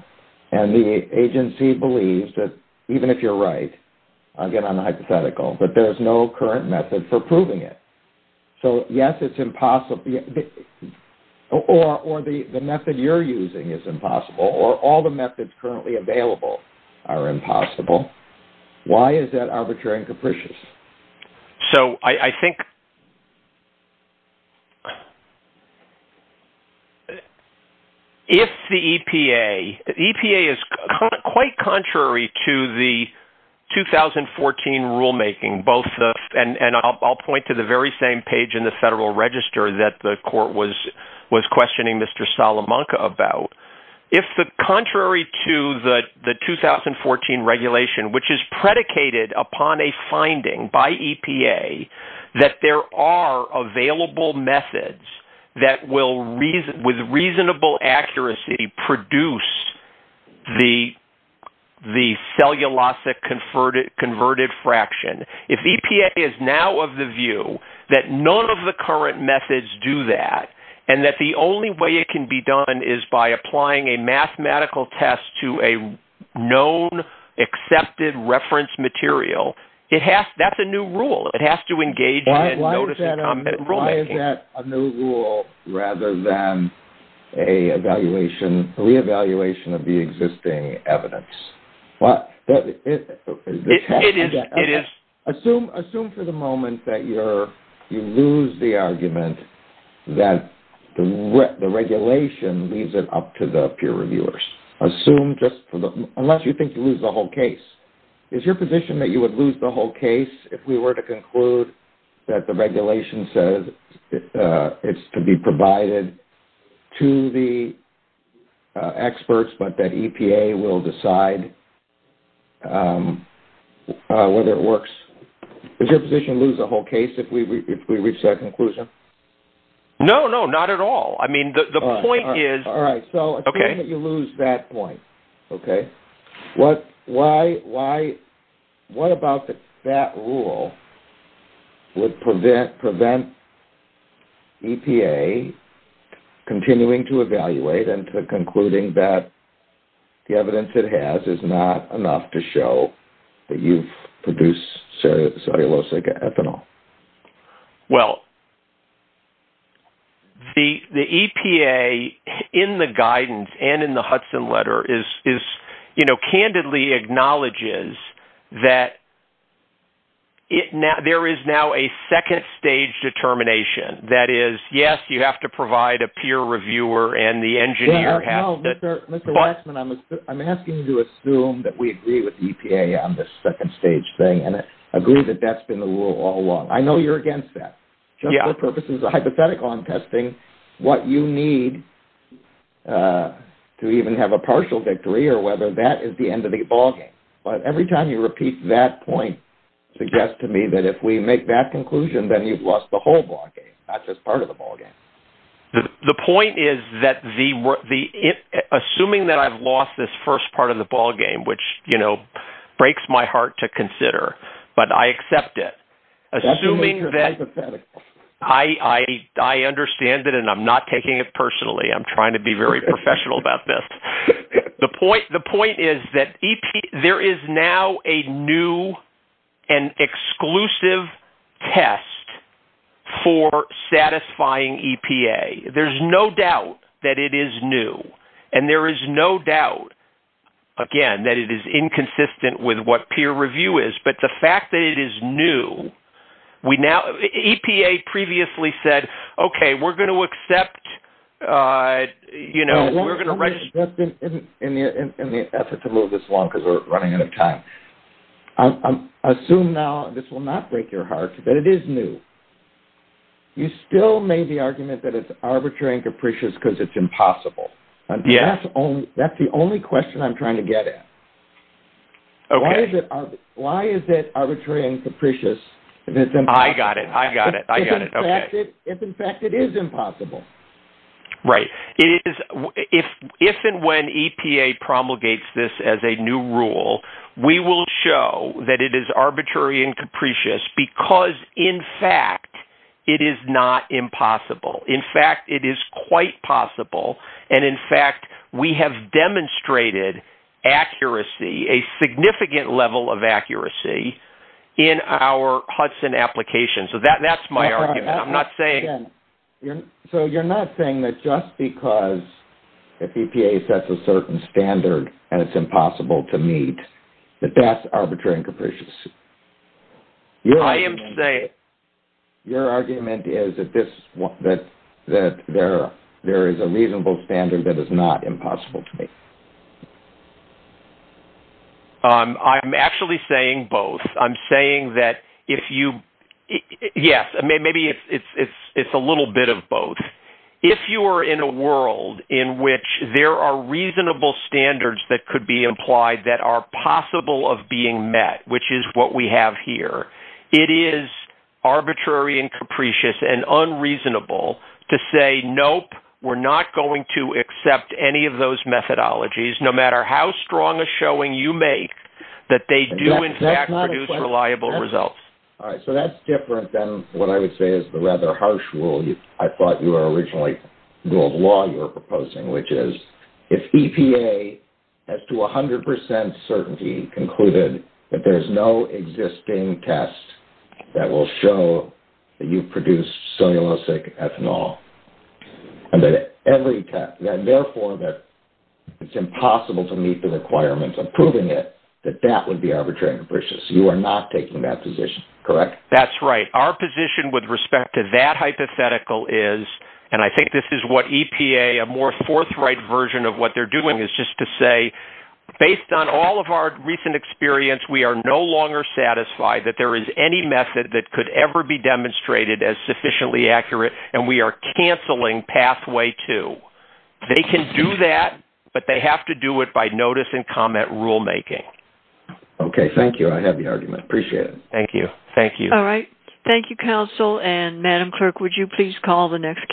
And the agency believes that, even if you're right, again on the hypothetical, that there is no current method for proving it. So, yes, it's impossible, or the method you're using is impossible, or all the methods currently available are impossible. Why is that arbitrary and capricious? So I think if the EPA – the EPA is quite contrary to the 2014 rulemaking, and I'll point to the very same page in the Federal Register that the court was questioning Mr. Salamanca about. If the contrary to the 2014 regulation, which is predicated upon a finding by EPA that there are available methods that will, with reasonable accuracy, produce the cellulosic converted fraction, if EPA is now of the view that none of the current methods do that, and that the only way it can be done is by applying a mathematical test to a known, accepted reference material, that's a new rule. It has to engage in a notice-and-comment rulemaking. Why is that a new rule rather than a reevaluation of the existing evidence? It is. Assume for the moment that you lose the argument that the regulation leaves it up to the peer reviewers. Assume just for the – unless you think you lose the whole case. Is your position that you would lose the whole case if we were to conclude that the regulation says it's to be provided to the experts, but that EPA will decide whether it works? Would your position lose the whole case if we reach that conclusion? No, no, not at all. I mean, the point is – All right, so assume that you lose that point, okay? What about that rule would prevent EPA continuing to evaluate and to concluding that the evidence it has is not enough to show that you've produced cellulosic ethanol? Well, the EPA, in the guidance and in the Hudson letter, candidly acknowledges that there is now a second-stage determination. That is, yes, you have to provide a peer reviewer and the engineer has to – No, Mr. Westman, I'm asking you to assume that we agree with EPA on this second-stage thing and agree that that's been the rule all along. I know you're against that just for purposes of hypothetical. I'm testing what you need to even have a partial victory or whether that is the end of the ballgame. But every time you repeat that point suggests to me that if we make that conclusion, then you've lost the whole ballgame, not just part of the ballgame. The point is that the – assuming that I've lost this first part of the ballgame, which breaks my heart to consider, but I accept it. Assuming that – I understand it and I'm not taking it personally. I'm trying to be very professional about this. The point is that there is now a new and exclusive test for satisfying EPA. There's no doubt that it is new, and there is no doubt, again, that it is inconsistent with what peer review is. But the fact that it is new, we now – EPA previously said, okay, we're going to accept, you know, we're going to register – In the effort to move this along because we're running out of time, assume now – this will not break your heart – that it is new. You still made the argument that it's arbitrary and capricious because it's impossible. Yes. That's the only question I'm trying to get at. Okay. Why is it arbitrary and capricious if it's impossible? I got it. I got it. I got it. Okay. If, in fact, it is impossible. Right. If and when EPA promulgates this as a new rule, we will show that it is arbitrary and capricious because, in fact, it is not impossible. In fact, it is quite possible. And, in fact, we have demonstrated accuracy, a significant level of accuracy, in our Hudson application. So that's my argument. I'm not saying – So you're not saying that just because EPA sets a certain standard and it's impossible to meet, that that's arbitrary and capricious? I am saying – Your argument is that there is a reasonable standard that is not impossible to meet. I'm actually saying both. I'm saying that if you – yes, maybe it's a little bit of both. If you are in a world in which there are reasonable standards that could be applied that are possible of being met, which is what we have here, it is arbitrary and capricious and unreasonable to say, nope, we're not going to accept any of those methodologies, no matter how strong a showing you make that they do, in fact, produce reliable results. All right. So that's different than what I would say is the rather harsh rule. I thought you were originally – the rule of law you were proposing, which is if EPA, as to 100 percent certainty, concluded that there is no existing test that will show that you produce cellulosic ethanol, and therefore that it's impossible to meet the requirements of proving it, that that would be arbitrary and capricious. You are not taking that position, correct? That's right. Our position with respect to that hypothetical is – the forthright version of what they're doing is just to say, based on all of our recent experience, we are no longer satisfied that there is any method that could ever be demonstrated as sufficiently accurate, and we are canceling pathway two. They can do that, but they have to do it by notice and comment rulemaking. Okay. Thank you. I have the argument. Appreciate it. Thank you. Thank you. All right. Thank you, counsel. And, Madam Clerk, would you please call the next case?